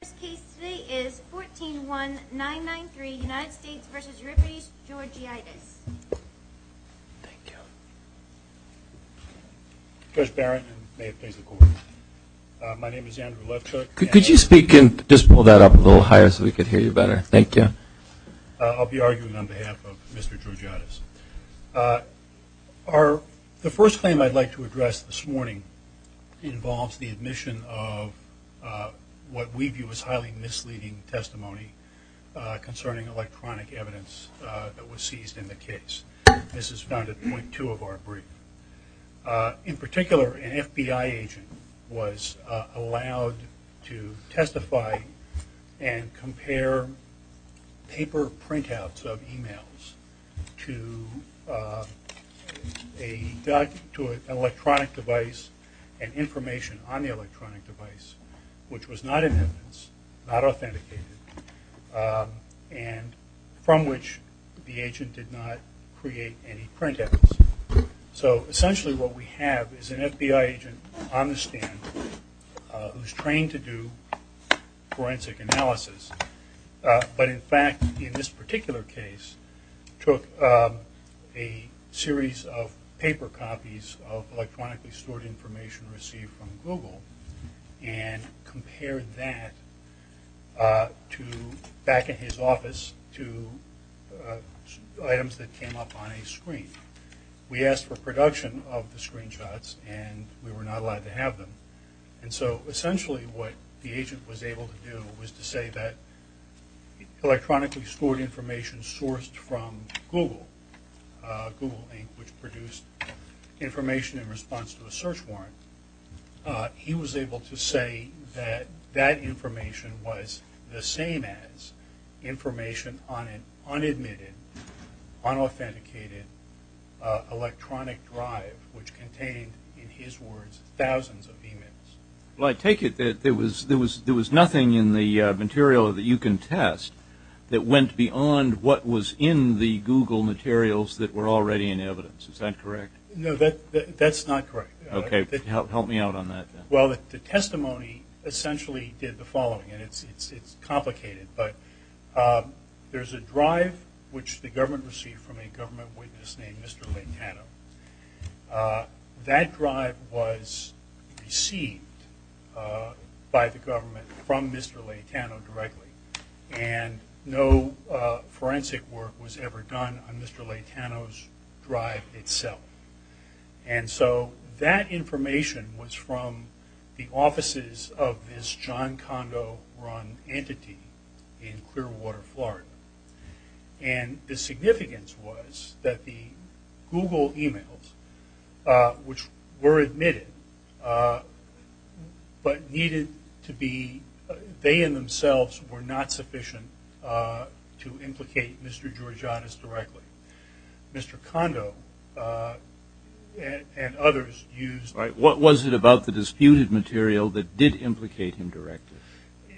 The first case today is 14-1-993 United States v. Euripides Georgiadis. Thank you. Judge Barrett, and may it please the Court. My name is Andrew Lefthook. Could you speak and just pull that up a little higher so we can hear you better? Thank you. I'll be arguing on behalf of Mr. Georgiadis. The first claim I'd like to address this morning involves the admission of what we view as highly misleading testimony concerning electronic evidence that was seized in the case. This is found at point two of our brief. In particular, an FBI agent was allowed to testify and compare paper printouts of emails to an electronic device and information on the electronic device, which was not in evidence, not authenticated, and from which the agent did not create any printouts. So essentially what we have is an FBI agent on the stand who's trained to do forensic analysis, but in fact in this particular case took a series of paper copies of electronically stored information received from Google and compared that back at his office to items that came up on a screen. We asked for production of the screenshots and we were not allowed to have them. And so essentially what the agent was able to do was to say that electronically stored information sourced from Google, Google Inc., which produced information in response to a search warrant, he was able to say that that information was the same as information on an unadmitted, unauthenticated electronic drive, which contained, in his words, thousands of emails. Well, I take it that there was nothing in the material that you can test that went beyond what was in the Google materials that were already in evidence. Is that correct? No, that's not correct. Okay, help me out on that then. Well, the testimony essentially did the following, and it's complicated, but there's a drive which the government received from a government witness named Mr. Leitano. That drive was received by the government from Mr. Leitano directly, and no forensic work was ever done on Mr. Leitano's drive itself. And so that information was from the offices of this John Kondo-run entity in Clearwater, Florida. And the significance was that the Google emails, which were admitted, but needed to be, they in themselves were not sufficient to implicate Mr. Giorgiannis directly. Mr. Kondo and others used... What was it about the disputed material that did implicate him directly?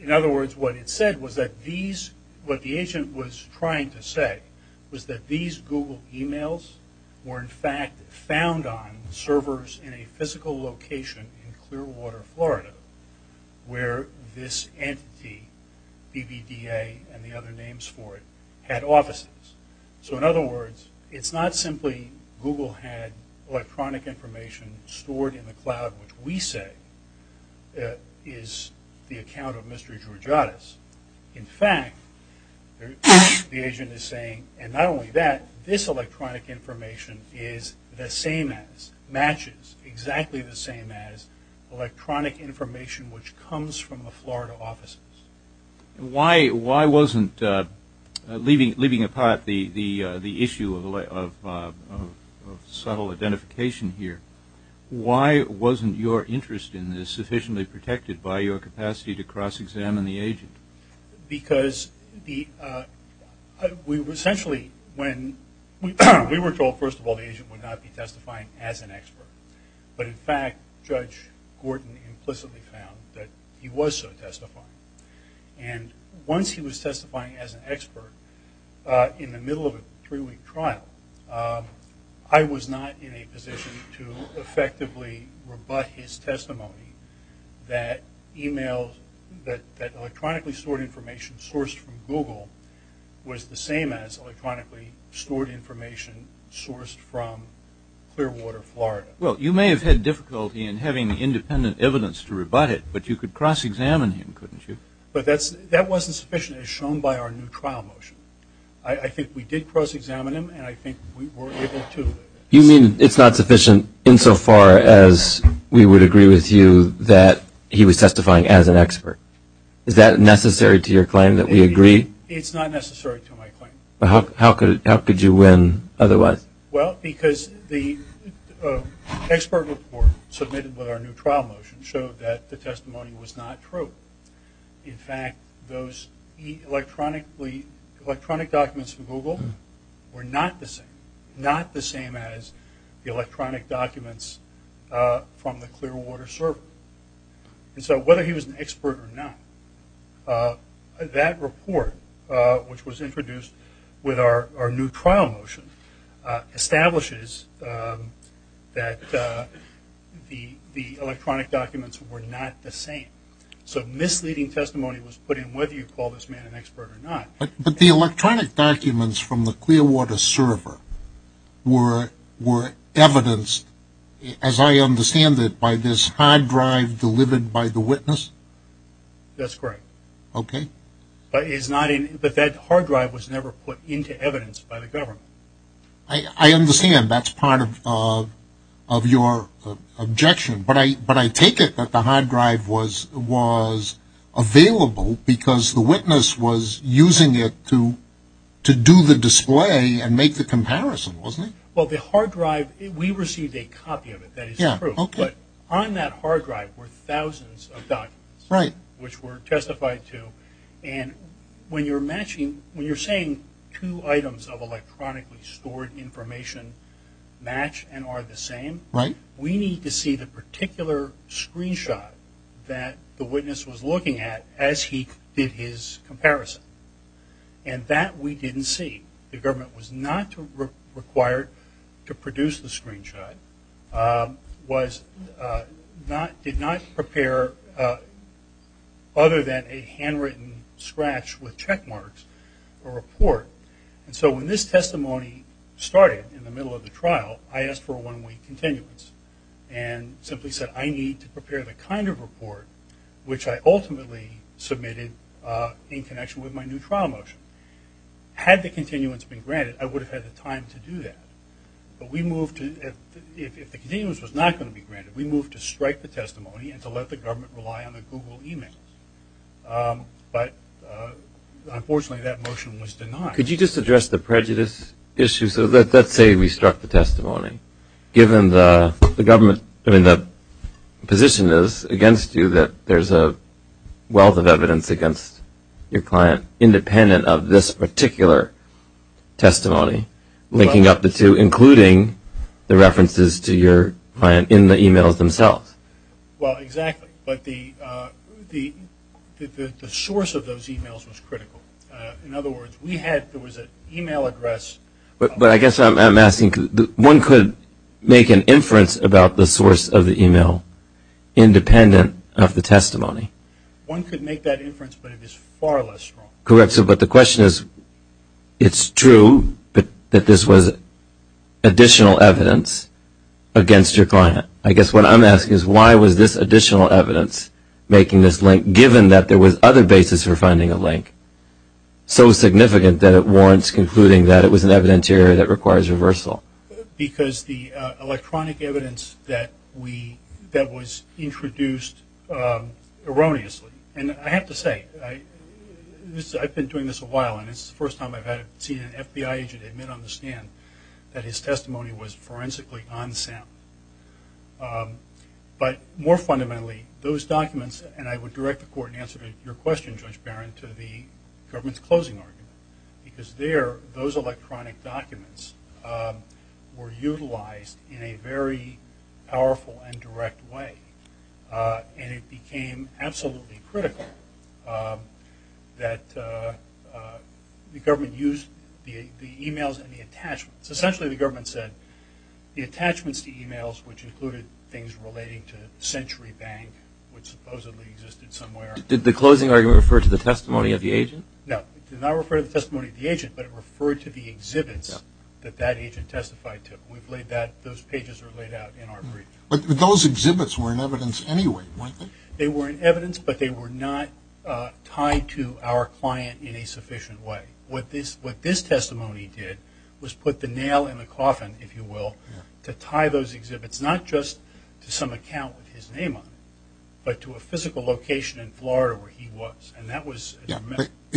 In other words, what it said was that these, what the agent was trying to say, was that these Google emails were in fact found on servers in a physical location in Clearwater, Florida, where this entity, BBDA and the other names for it, had offices. So in other words, it's not simply Google had electronic information stored in the cloud, which we say is the account of Mr. Giorgiannis. In fact, the agent is saying, and not only that, this electronic information is the same as, matches exactly the same as electronic information which comes from the Florida offices. Why wasn't, leaving apart the issue of subtle identification here, why wasn't your interest in this sufficiently protected by your capacity to cross-examine the agent? Because we were told, first of all, the agent would not be testifying as an expert. But in fact, Judge Gordon implicitly found that he was so testifying. And once he was testifying as an expert, in the middle of a three-week trial, I was not in a position to effectively rebut his testimony that emails, that electronically stored information sourced from Google, was the same as electronically stored information sourced from Clearwater, Florida. Well, you may have had difficulty in having independent evidence to rebut it, but you could cross-examine him, couldn't you? But that wasn't sufficient, as shown by our new trial motion. I think we did cross-examine him, and I think we were able to. You mean it's not sufficient insofar as we would agree with you that he was testifying as an expert? Is that necessary to your claim that we agree? It's not necessary to my claim. How could you win otherwise? Well, because the expert report submitted with our new trial motion showed that the testimony was not true. In fact, those electronic documents from Google were not the same, not the same as the electronic documents from the Clearwater server. And so whether he was an expert or not, that report, which was introduced with our new trial motion, establishes that the electronic documents were not the same. So misleading testimony was put in whether you call this man an expert or not. But the electronic documents from the Clearwater server were evidenced, as I understand it, by this hard drive delivered by the witness? That's correct. Okay. But that hard drive was never put into evidence by the government. I understand. That's part of your objection. But I take it that the hard drive was available because the witness was using it to do the display and make the comparison, wasn't he? Well, the hard drive, we received a copy of it. That is true. But on that hard drive were thousands of documents, which were testified to. And when you're matching, when you're saying two items of electronically stored information match and are the same, we need to see the particular screenshot that the witness was looking at as he did his comparison. And that we didn't see. The government was not required to produce the screenshot, did not prepare other than a handwritten scratch with check marks or report. And so when this testimony started in the middle of the trial, I asked for a one-week continuance and simply said I need to prepare the kind of report which I ultimately submitted in connection with my new trial motion. Had the continuance been granted, I would have had the time to do that. But we moved to, if the continuance was not going to be granted, we moved to strike the testimony and to let the government rely on the Google emails. But unfortunately that motion was denied. Could you just address the prejudice issue? So let's say we struck the testimony. Given the government, I mean the position is against you that there's a wealth of evidence against your client independent of this particular testimony, linking up the two, including the references to your client in the emails themselves. Well, exactly. But the source of those emails was critical. In other words, we had, there was an email address. But I guess I'm asking, one could make an inference about the source of the email independent of the testimony. One could make that inference, but it is far less strong. Correct. But the question is, it's true that this was additional evidence against your client. I guess what I'm asking is why was this additional evidence making this link, given that there was other basis for finding a link, so significant that it warrants concluding that it was an evidentiary that requires reversal? Because the electronic evidence that was introduced erroneously, and I have to say, I've been doing this a while, and this is the first time I've seen an FBI agent admit on the stand that his testimony was forensically unsound. But more fundamentally, those documents, and I would direct the court in answer to your question, Judge Barron, to the government's closing argument. Because there, those electronic documents were utilized in a very powerful and direct way. And it became absolutely critical that the government used the emails and the attachments. Essentially, the government said the attachments to emails, which included things relating to Century Bank, which supposedly existed somewhere. Did the closing argument refer to the testimony of the agent? No, it did not refer to the testimony of the agent, but it referred to the exhibits that that agent testified to. We've laid that, those pages are laid out in our brief. But those exhibits were in evidence anyway, weren't they? They were in evidence, but they were not tied to our client in a sufficient way. What this testimony did was put the nail in the coffin, if you will, to tie those exhibits not just to some account with his name on it, but to a physical location in Florida where he was.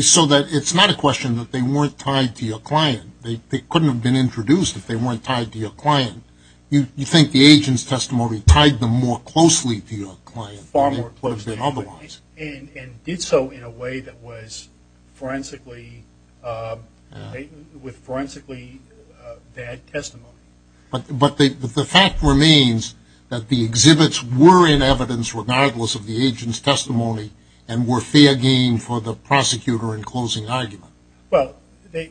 So it's not a question that they weren't tied to your client. They couldn't have been introduced if they weren't tied to your client. You think the agent's testimony tied them more closely to your client than it would have been otherwise. And did so in a way that was forensically, with forensically bad testimony. But the fact remains that the exhibits were in evidence regardless of the agent's testimony and were fair game for the prosecutor in closing argument. Well,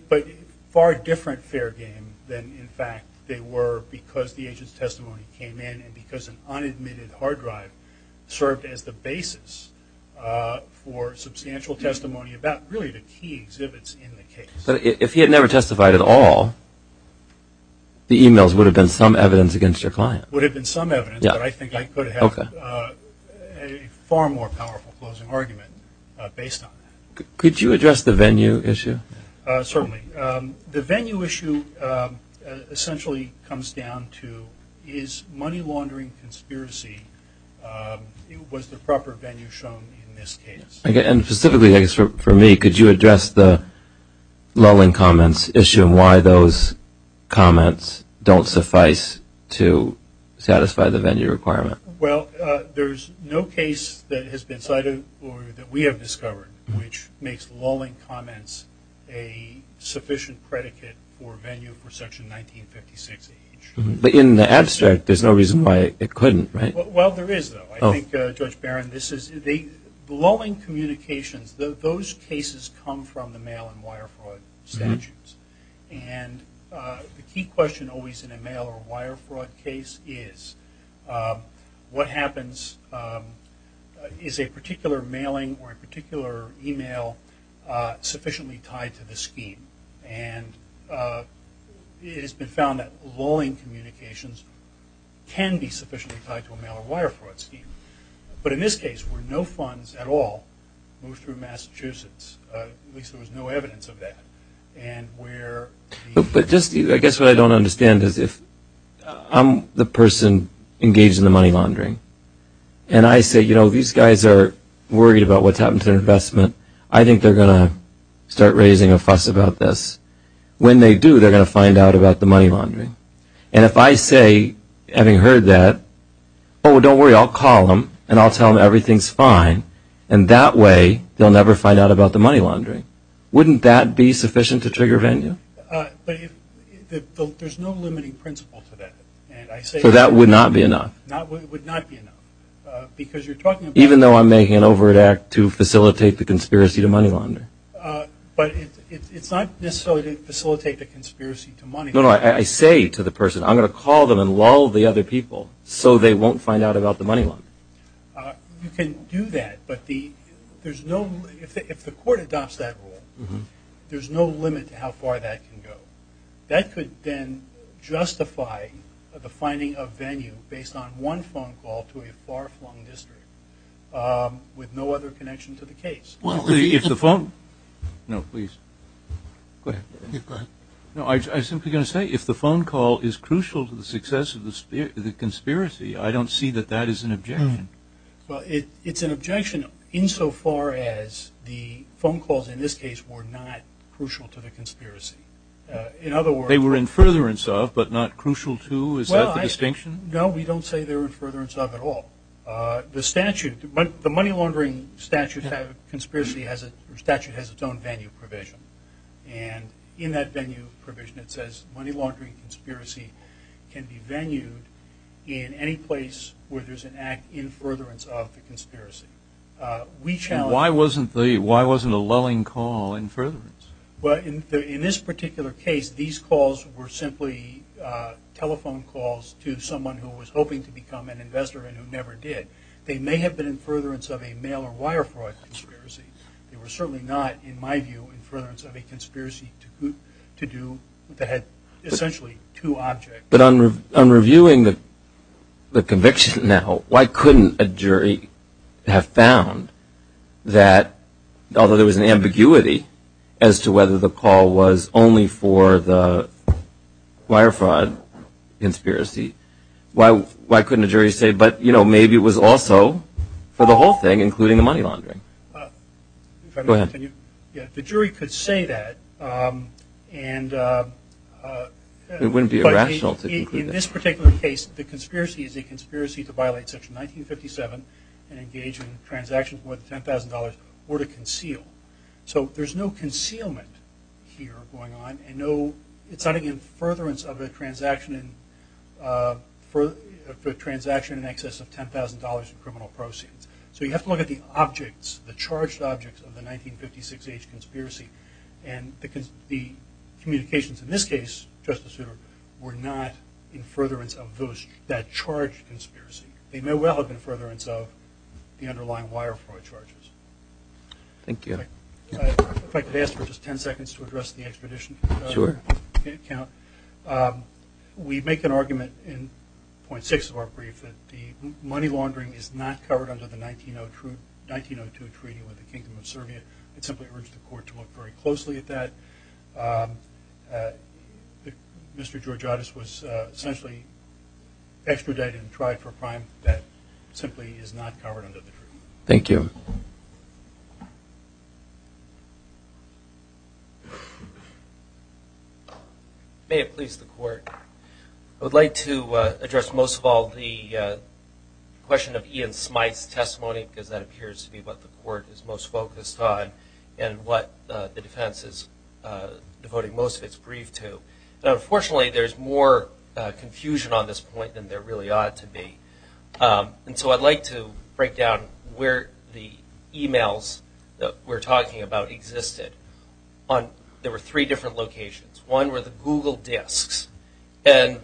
but far different fair game than in fact they were because the agent's testimony came in and because an unadmitted hard drive served as the basis for substantial testimony about really the key exhibits in the case. But if he had never testified at all, the emails would have been some evidence against your client. Would have been some evidence, but I think I could have a far more powerful closing argument based on that. Could you address the venue issue? Certainly. The venue issue essentially comes down to is money laundering conspiracy, was the proper venue shown in this case? And specifically I guess for me, could you address the lulling comments issue and why those comments don't suffice to satisfy the venue requirement? Well, there's no case that has been cited or that we have discovered which makes lulling comments a sufficient predicate for venue for section 1956H. But in the abstract there's no reason why it couldn't, right? Well, there is though. I think, Judge Barron, the lulling communications, those cases come from the mail and wire fraud statutes. And the key question always in a mail or wire fraud case is what happens, is a particular mailing or a particular email sufficiently tied to the scheme? And it has been found that lulling communications can be sufficiently tied to a mail or wire fraud scheme. But in this case where no funds at all move through Massachusetts, at least there was no evidence of that, and where the... But just, I guess what I don't understand is if I'm the person engaged in the money laundering and I say, you know, these guys are worried about what's happened to their investment, I think they're going to start raising a fuss about this. When they do, they're going to find out about the money laundering. And if I say, having heard that, oh, don't worry, I'll call them and I'll tell them everything's fine, and that way they'll never find out about the money laundering. Wouldn't that be sufficient to trigger venue? But there's no limiting principle to that. So that would not be enough? It would not be enough because you're talking about... Conspiracy to money launder. But it's not necessarily to facilitate the conspiracy to money laundering. No, no, I say to the person, I'm going to call them and lull the other people so they won't find out about the money laundering. You can do that, but there's no... If the court adopts that rule, there's no limit to how far that can go. That could then justify the finding of venue based on one phone call to a far-flung district with no other connection to the case. Well, if the phone... No, please. Go ahead. Go ahead. No, I was simply going to say, if the phone call is crucial to the success of the conspiracy, I don't see that that is an objection. Well, it's an objection insofar as the phone calls in this case were not crucial to the conspiracy. In other words... They were in furtherance of, but not crucial to, is that the distinction? No, we don't say they were in furtherance of at all. The statute, the money laundering statute has its own venue provision, and in that venue provision it says money laundering conspiracy can be venued in any place where there's an act in furtherance of the conspiracy. Why wasn't a lulling call in furtherance? Well, in this particular case, these calls were simply telephone calls to someone who was hoping to become an investor and who never did. They may have been in furtherance of a mail or wire fraud conspiracy. They were certainly not, in my view, in furtherance of a conspiracy to do... that had essentially two objects. But on reviewing the conviction now, why couldn't a jury have found that, although there was an ambiguity as to whether the call was only for the wire fraud conspiracy, why couldn't a jury say, but, you know, maybe it was also for the whole thing, including the money laundering? Go ahead. The jury could say that, and... It wouldn't be irrational to conclude that. In this particular case, the conspiracy is a conspiracy to violate Section 1957 and engage in transactions worth $10,000 or to conceal. So there's no concealment here going on, and no... It's not in furtherance of a transaction in excess of $10,000 in criminal proceeds. So you have to look at the objects, the charged objects of the 1956 age conspiracy. And the communications in this case, Justice Souter, were not in furtherance of that charged conspiracy. They may well have been furtherance of the underlying wire fraud charges. Thank you. If I could ask for just ten seconds to address the extradition account. We make an argument in .6 of our brief that the money laundering is not covered under the 1902 treaty with the Kingdom of Serbia. I'd simply urge the Court to look very closely at that. Mr. Georgiotis was essentially extradited and tried for a crime that simply is not covered under the treaty. Thank you. May it please the Court. I would like to address most of all the question of Ian Smyth's testimony, because that appears to be what the Court is most focused on and what the defense is devoting most of its brief to. Unfortunately, there's more confusion on this point than there really ought to be. And so I'd like to break down where the e-mails that we're talking about existed. There were three different locations. One were the Google disks. And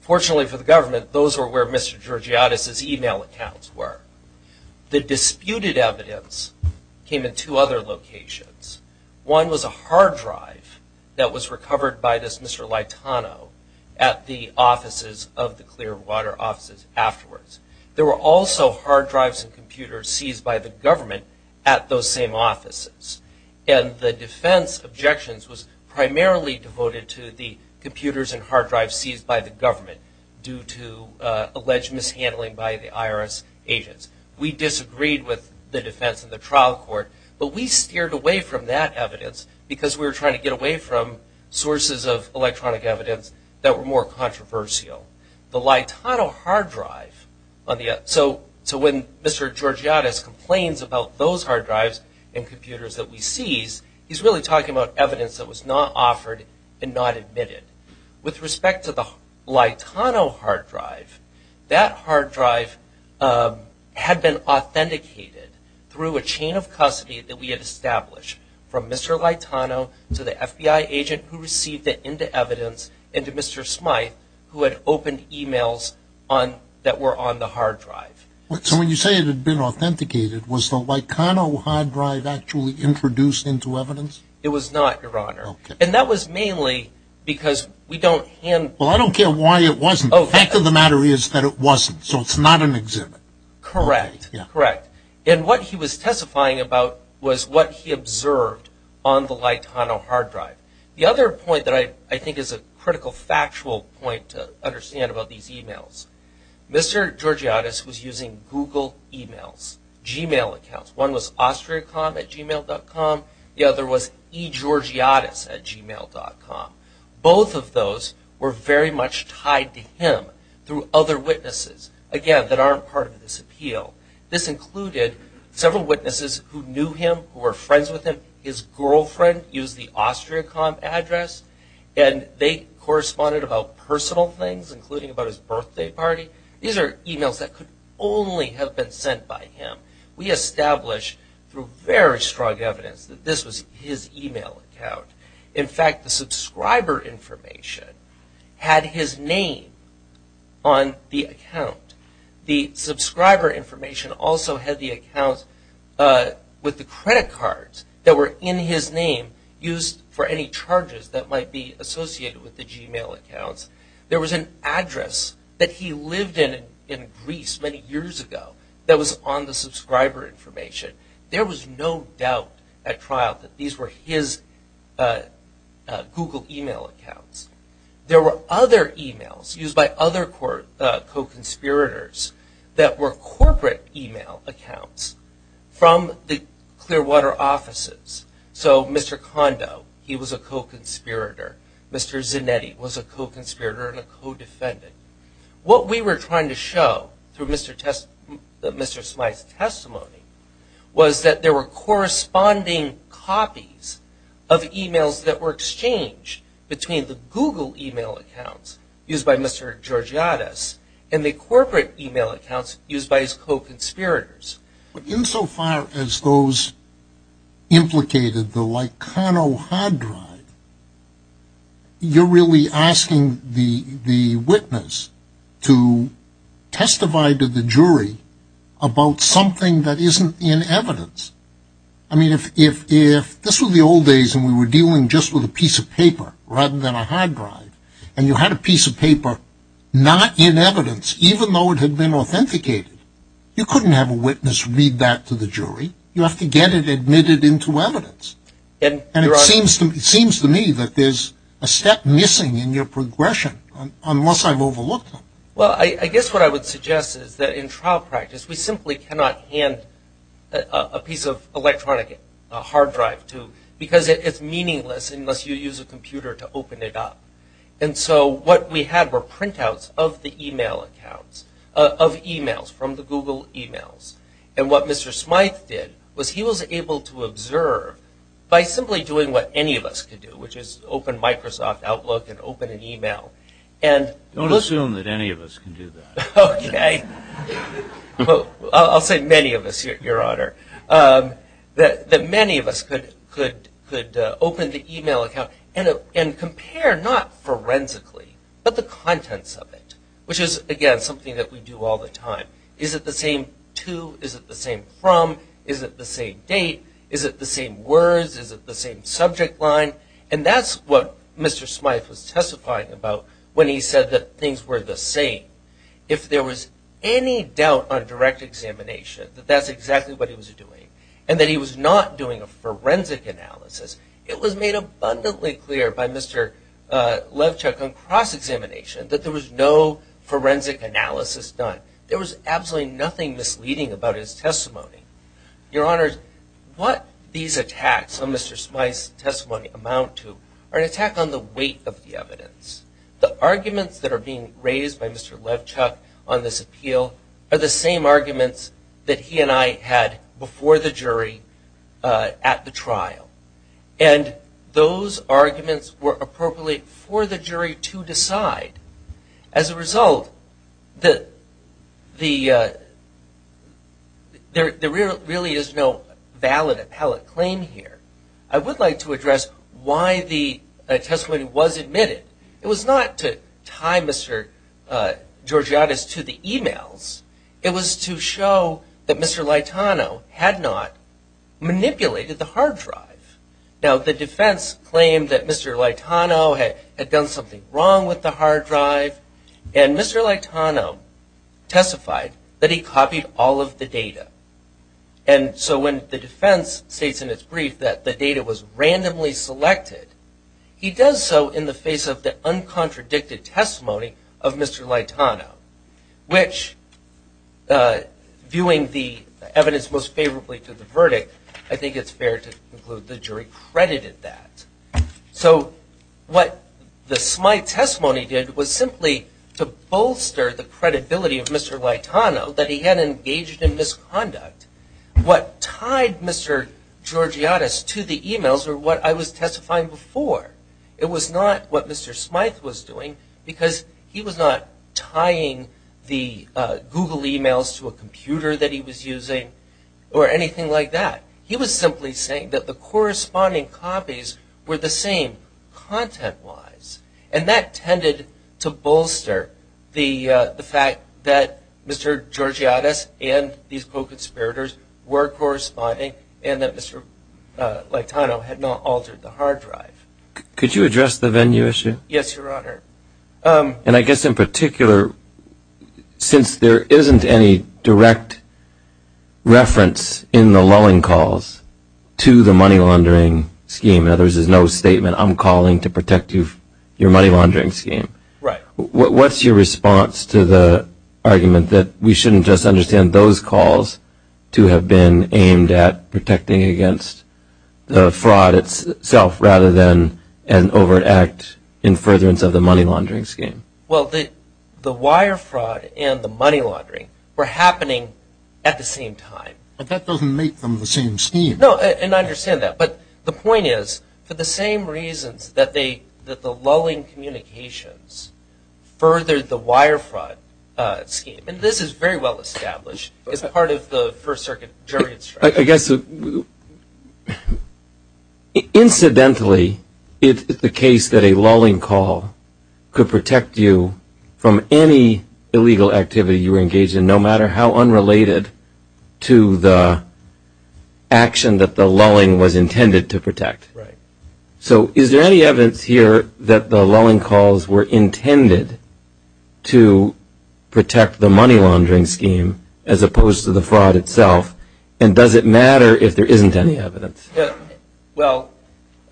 fortunately for the government, those were where Mr. Georgiotis' e-mail accounts were. The disputed evidence came in two other locations. One was a hard drive that was recovered by this Mr. Laitano at the offices of the Clearwater offices afterwards. There were also hard drives and computers seized by the government at those same offices. And the defense objections was primarily devoted to the computers and hard drives seized by the government due to alleged mishandling by the IRS agents. We disagreed with the defense in the trial court, but we steered away from that evidence because we were trying to get away from sources of electronic evidence that were more controversial. The Laitano hard drive, so when Mr. Georgiotis complains about those hard drives and computers that we seized, he's really talking about evidence that was not offered and not admitted. With respect to the Laitano hard drive, that hard drive had been authenticated through a chain of custody that we had established from Mr. Laitano to the FBI agent who received it into evidence and to Mr. Smythe who had opened e-mails that were on the hard drive. So when you say it had been authenticated, was the Laitano hard drive actually introduced into evidence? It was not, Your Honor. And that was mainly because we don't hand... Well, I don't care why it wasn't. The fact of the matter is that it wasn't, so it's not an exhibit. Correct, correct. And what he was testifying about was what he observed on the Laitano hard drive. The other point that I think is a critical factual point to understand about these e-mails, Mr. Georgiotis was using Google e-mails, Gmail accounts. One was austriacom at gmail.com. The other was egeorgiotis at gmail.com. Both of those were very much tied to him through other witnesses. Again, that aren't part of this appeal. This included several witnesses who knew him, who were friends with him. His girlfriend used the austriacom address, and they corresponded about personal things, including about his birthday party. These are e-mails that could only have been sent by him. We establish through very strong evidence that this was his e-mail account. In fact, the subscriber information had his name on the account. The subscriber information also had the account with the credit cards that were in his name used for any charges that might be associated with the Gmail accounts. There was an address that he lived in in Greece many years ago that was on the subscriber information. There was no doubt at trial that these were his Google e-mail accounts. There were other e-mails used by other co-conspirators that were corporate e-mail accounts from the Clearwater offices. So Mr. Kondo, he was a co-conspirator. Mr. Zinetti was a co-conspirator and a co-defendant. What we were trying to show through Mr. Smythe's testimony was that there were corresponding copies of e-mails that were exchanged between the Google e-mail accounts used by Mr. Georgiades and the corporate e-mail accounts used by his co-conspirators. In so far as those implicated, the Likano hard drive, you're really asking the witness to testify to the jury about something that isn't in evidence. I mean, if this were the old days and we were dealing just with a piece of paper rather than a hard drive and you had a piece of paper not in evidence, even though it had been authenticated, you couldn't have a witness read that to the jury. You have to get it admitted into evidence. And it seems to me that there's a step missing in your progression, unless I've overlooked it. Well, I guess what I would suggest is that in trial practice, we simply cannot hand a piece of electronic hard drive to, because it's meaningless unless you use a computer to open it up. And so what we had were printouts of the e-mail accounts, of e-mails from the Google e-mails. And what Mr. Smythe did was he was able to observe by simply doing what any of us could do, which is open Microsoft Outlook and open an e-mail. Don't assume that any of us can do that. Okay. I'll say many of us, Your Honor, that many of us could open the e-mail account and compare not forensically, but the contents of it, which is, again, something that we do all the time. Is it the same to? Is it the same from? Is it the same date? Is it the same words? Is it the same subject line? And that's what Mr. Smythe was testifying about when he said that things were the same. If there was any doubt on direct examination that that's exactly what he was doing and that he was not doing a forensic analysis, it was made abundantly clear by Mr. Levchuk on cross-examination that there was no forensic analysis done. There was absolutely nothing misleading about his testimony. Your Honor, what these attacks on Mr. Smythe's testimony amount to are an attack on the weight of the evidence. The arguments that are being raised by Mr. Levchuk on this appeal are the same arguments that he and I had before the jury at the trial. And those arguments were appropriate for the jury to decide. As a result, there really is no valid appellate claim here. I would like to address why the testimony was admitted. It was not to tie Mr. Georgiades to the emails. It was to show that Mr. Laitano had not manipulated the hard drive. Now the defense claimed that Mr. Laitano had done something wrong with the hard drive and Mr. Laitano testified that he copied all of the data. And so when the defense states in its brief that the data was randomly selected, he does so in the face of the uncontradicted testimony of Mr. Laitano, which viewing the evidence most favorably to the verdict, I think it's fair to conclude the jury credited that. So what the Smythe testimony did was simply to bolster the credibility of Mr. Laitano that he had engaged in misconduct. What tied Mr. Georgiades to the emails were what I was testifying before. It was not what Mr. Smythe was doing because he was not tying the Google emails to a computer that he was using or anything like that. He was simply saying that the corresponding copies were the same content-wise. And that tended to bolster the fact that Mr. Georgiades and these co-conspirators were corresponding and that Mr. Laitano had not altered the hard drive. Could you address the venue issue? Yes, Your Honor. And I guess in particular, since there isn't any direct reference in the lulling calls to the money laundering scheme, in other words, there's no statement, I'm calling to protect your money laundering scheme. Right. What's your response to the argument that we shouldn't just understand those calls to have been aimed at protecting against the fraud itself rather than an overt act in furtherance of the money laundering scheme? Well, the wire fraud and the money laundering were happening at the same time. But that doesn't make them the same scheme. No, and I understand that. But the point is, for the same reasons that the lulling communications furthered the wire fraud scheme. And this is very well established as part of the First Circuit jury instruction. I guess incidentally, if it's the case that a lulling call could protect you from any illegal activity you were engaged in, no matter how unrelated to the action that the lulling was intended to protect. Right. So is there any evidence here that the lulling calls were intended to protect the money laundering scheme as opposed to the fraud itself? And does it matter if there isn't any evidence? Well,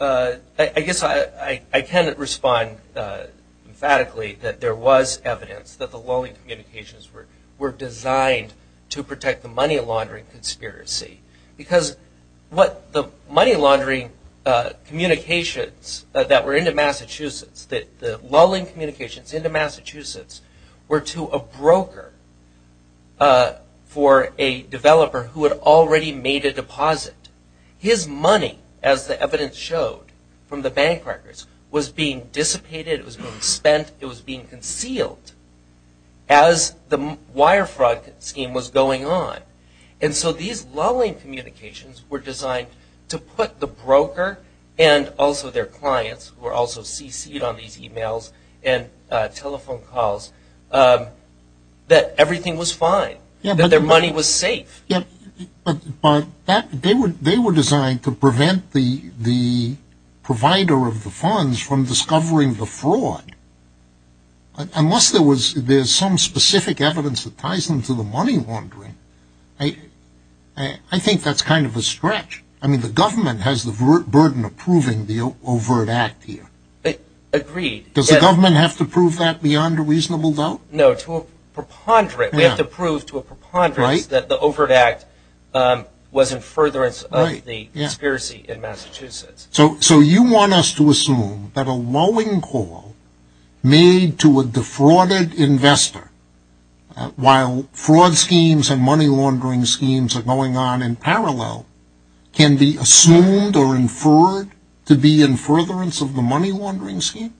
I guess I cannot respond emphatically that there was evidence that the lulling communications were designed to protect the money laundering conspiracy. Because the money laundering communications that were into Massachusetts, the lulling communications into Massachusetts were to a broker for a developer who had already made a deposit. His money, as the evidence showed from the bank records, was being dissipated, it was being spent, it was being concealed as the wire fraud scheme was going on. And so these lulling communications were designed to put the broker and also their clients, who were also CC'd on these e-mails and telephone calls, that everything was fine, that their money was safe. But they were designed to prevent the provider of the funds from discovering the fraud. Unless there was some specific evidence that ties them to the money laundering, I think that's kind of a stretch. I mean the government has the burden of proving the overt act here. Agreed. Does the government have to prove that beyond a reasonable doubt? No, to a preponderance. We have to prove to a preponderance that the overt act was in furtherance of the conspiracy in Massachusetts. So you want us to assume that a lulling call made to a defrauded investor, while fraud schemes and money laundering schemes are going on in parallel, can be assumed or inferred to be in furtherance of the money laundering scheme?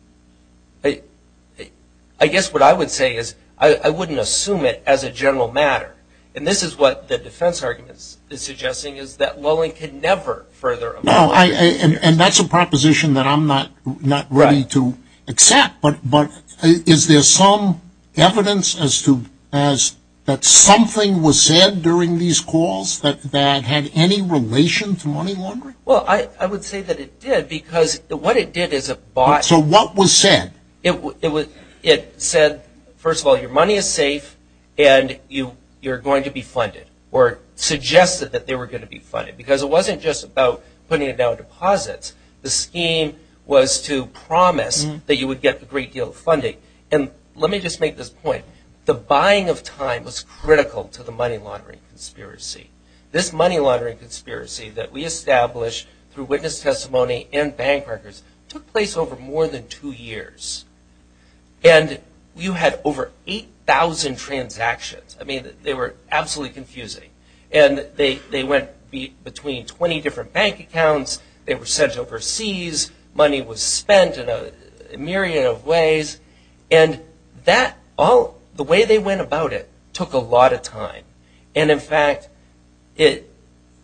I guess what I would say is I wouldn't assume it as a general matter. And this is what the defense argument is suggesting, is that lulling can never further a money laundering scheme. And that's a proposition that I'm not ready to accept. But is there some evidence that something was said during these calls that had any relation to money laundering? Well, I would say that it did, because what it did is it bought... So what was said? It said, first of all, your money is safe and you're going to be funded, or suggested that they were going to be funded, because it wasn't just about putting down deposits. The scheme was to promise that you would get a great deal of funding. And let me just make this point. The buying of time was critical to the money laundering conspiracy. This money laundering conspiracy that we established through witness testimony and bank records took place over more than two years. And you had over 8,000 transactions. I mean, they were absolutely confusing. And they went between 20 different bank accounts. They were sent overseas. Money was spent in a myriad of ways. And the way they went about it took a lot of time. And in fact, the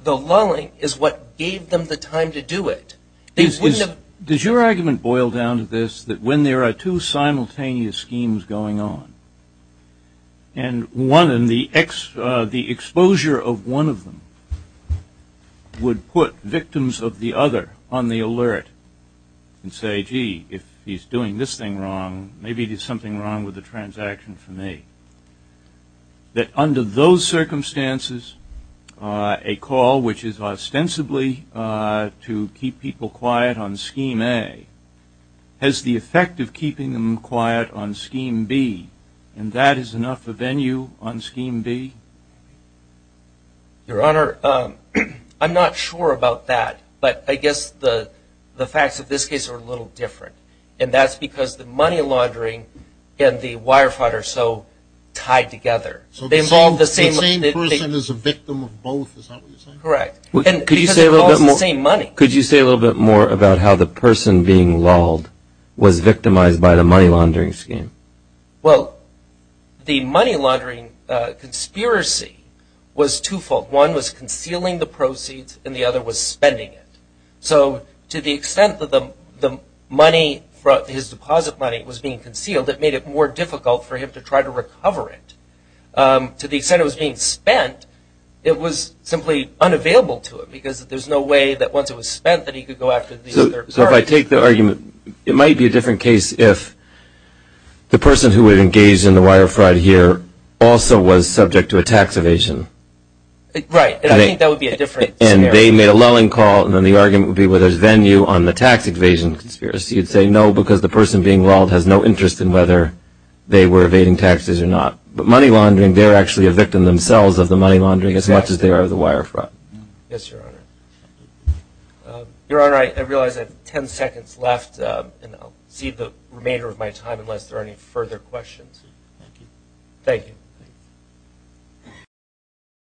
lulling is what gave them the time to do it. Does your argument boil down to this, that when there are two simultaneous schemes going on, and the exposure of one of them would put victims of the other on the alert and say, gee, if he's doing this thing wrong, maybe there's something wrong with the transaction for me, that under those circumstances, a call which is ostensibly to keep people quiet on Scheme A has the effect of keeping them quiet on Scheme B. And that is enough for venue on Scheme B? Your Honor, I'm not sure about that. But I guess the facts of this case are a little different. And that's because the money laundering and the wire fraud are so tied together. The same person is a victim of both, is that what you're saying? Correct. Because it involves the same money. Could you say a little bit more about how the person being lulled was victimized by the money laundering scheme? Well, the money laundering conspiracy was twofold. One was concealing the proceeds, and the other was spending it. So to the extent that the money, his deposit money, was being concealed, it made it more difficult for him to try to recover it. To the extent it was being spent, it was simply unavailable to him because there's no way that once it was spent that he could go after the other. So if I take the argument, it might be a different case if the person who was engaged in the wire fraud here also was subject to a tax evasion. Right, and I think that would be a different scenario. If they made a lulling call, then the argument would be whether there's venue on the tax evasion conspiracy. You'd say no because the person being lulled has no interest in whether they were evading taxes or not. But money laundering, they're actually a victim themselves of the money laundering as much as they are of the wire fraud. Yes, Your Honor. Your Honor, I realize I have 10 seconds left, and I'll cede the remainder of my time unless there are any further questions. Thank you. Thank you.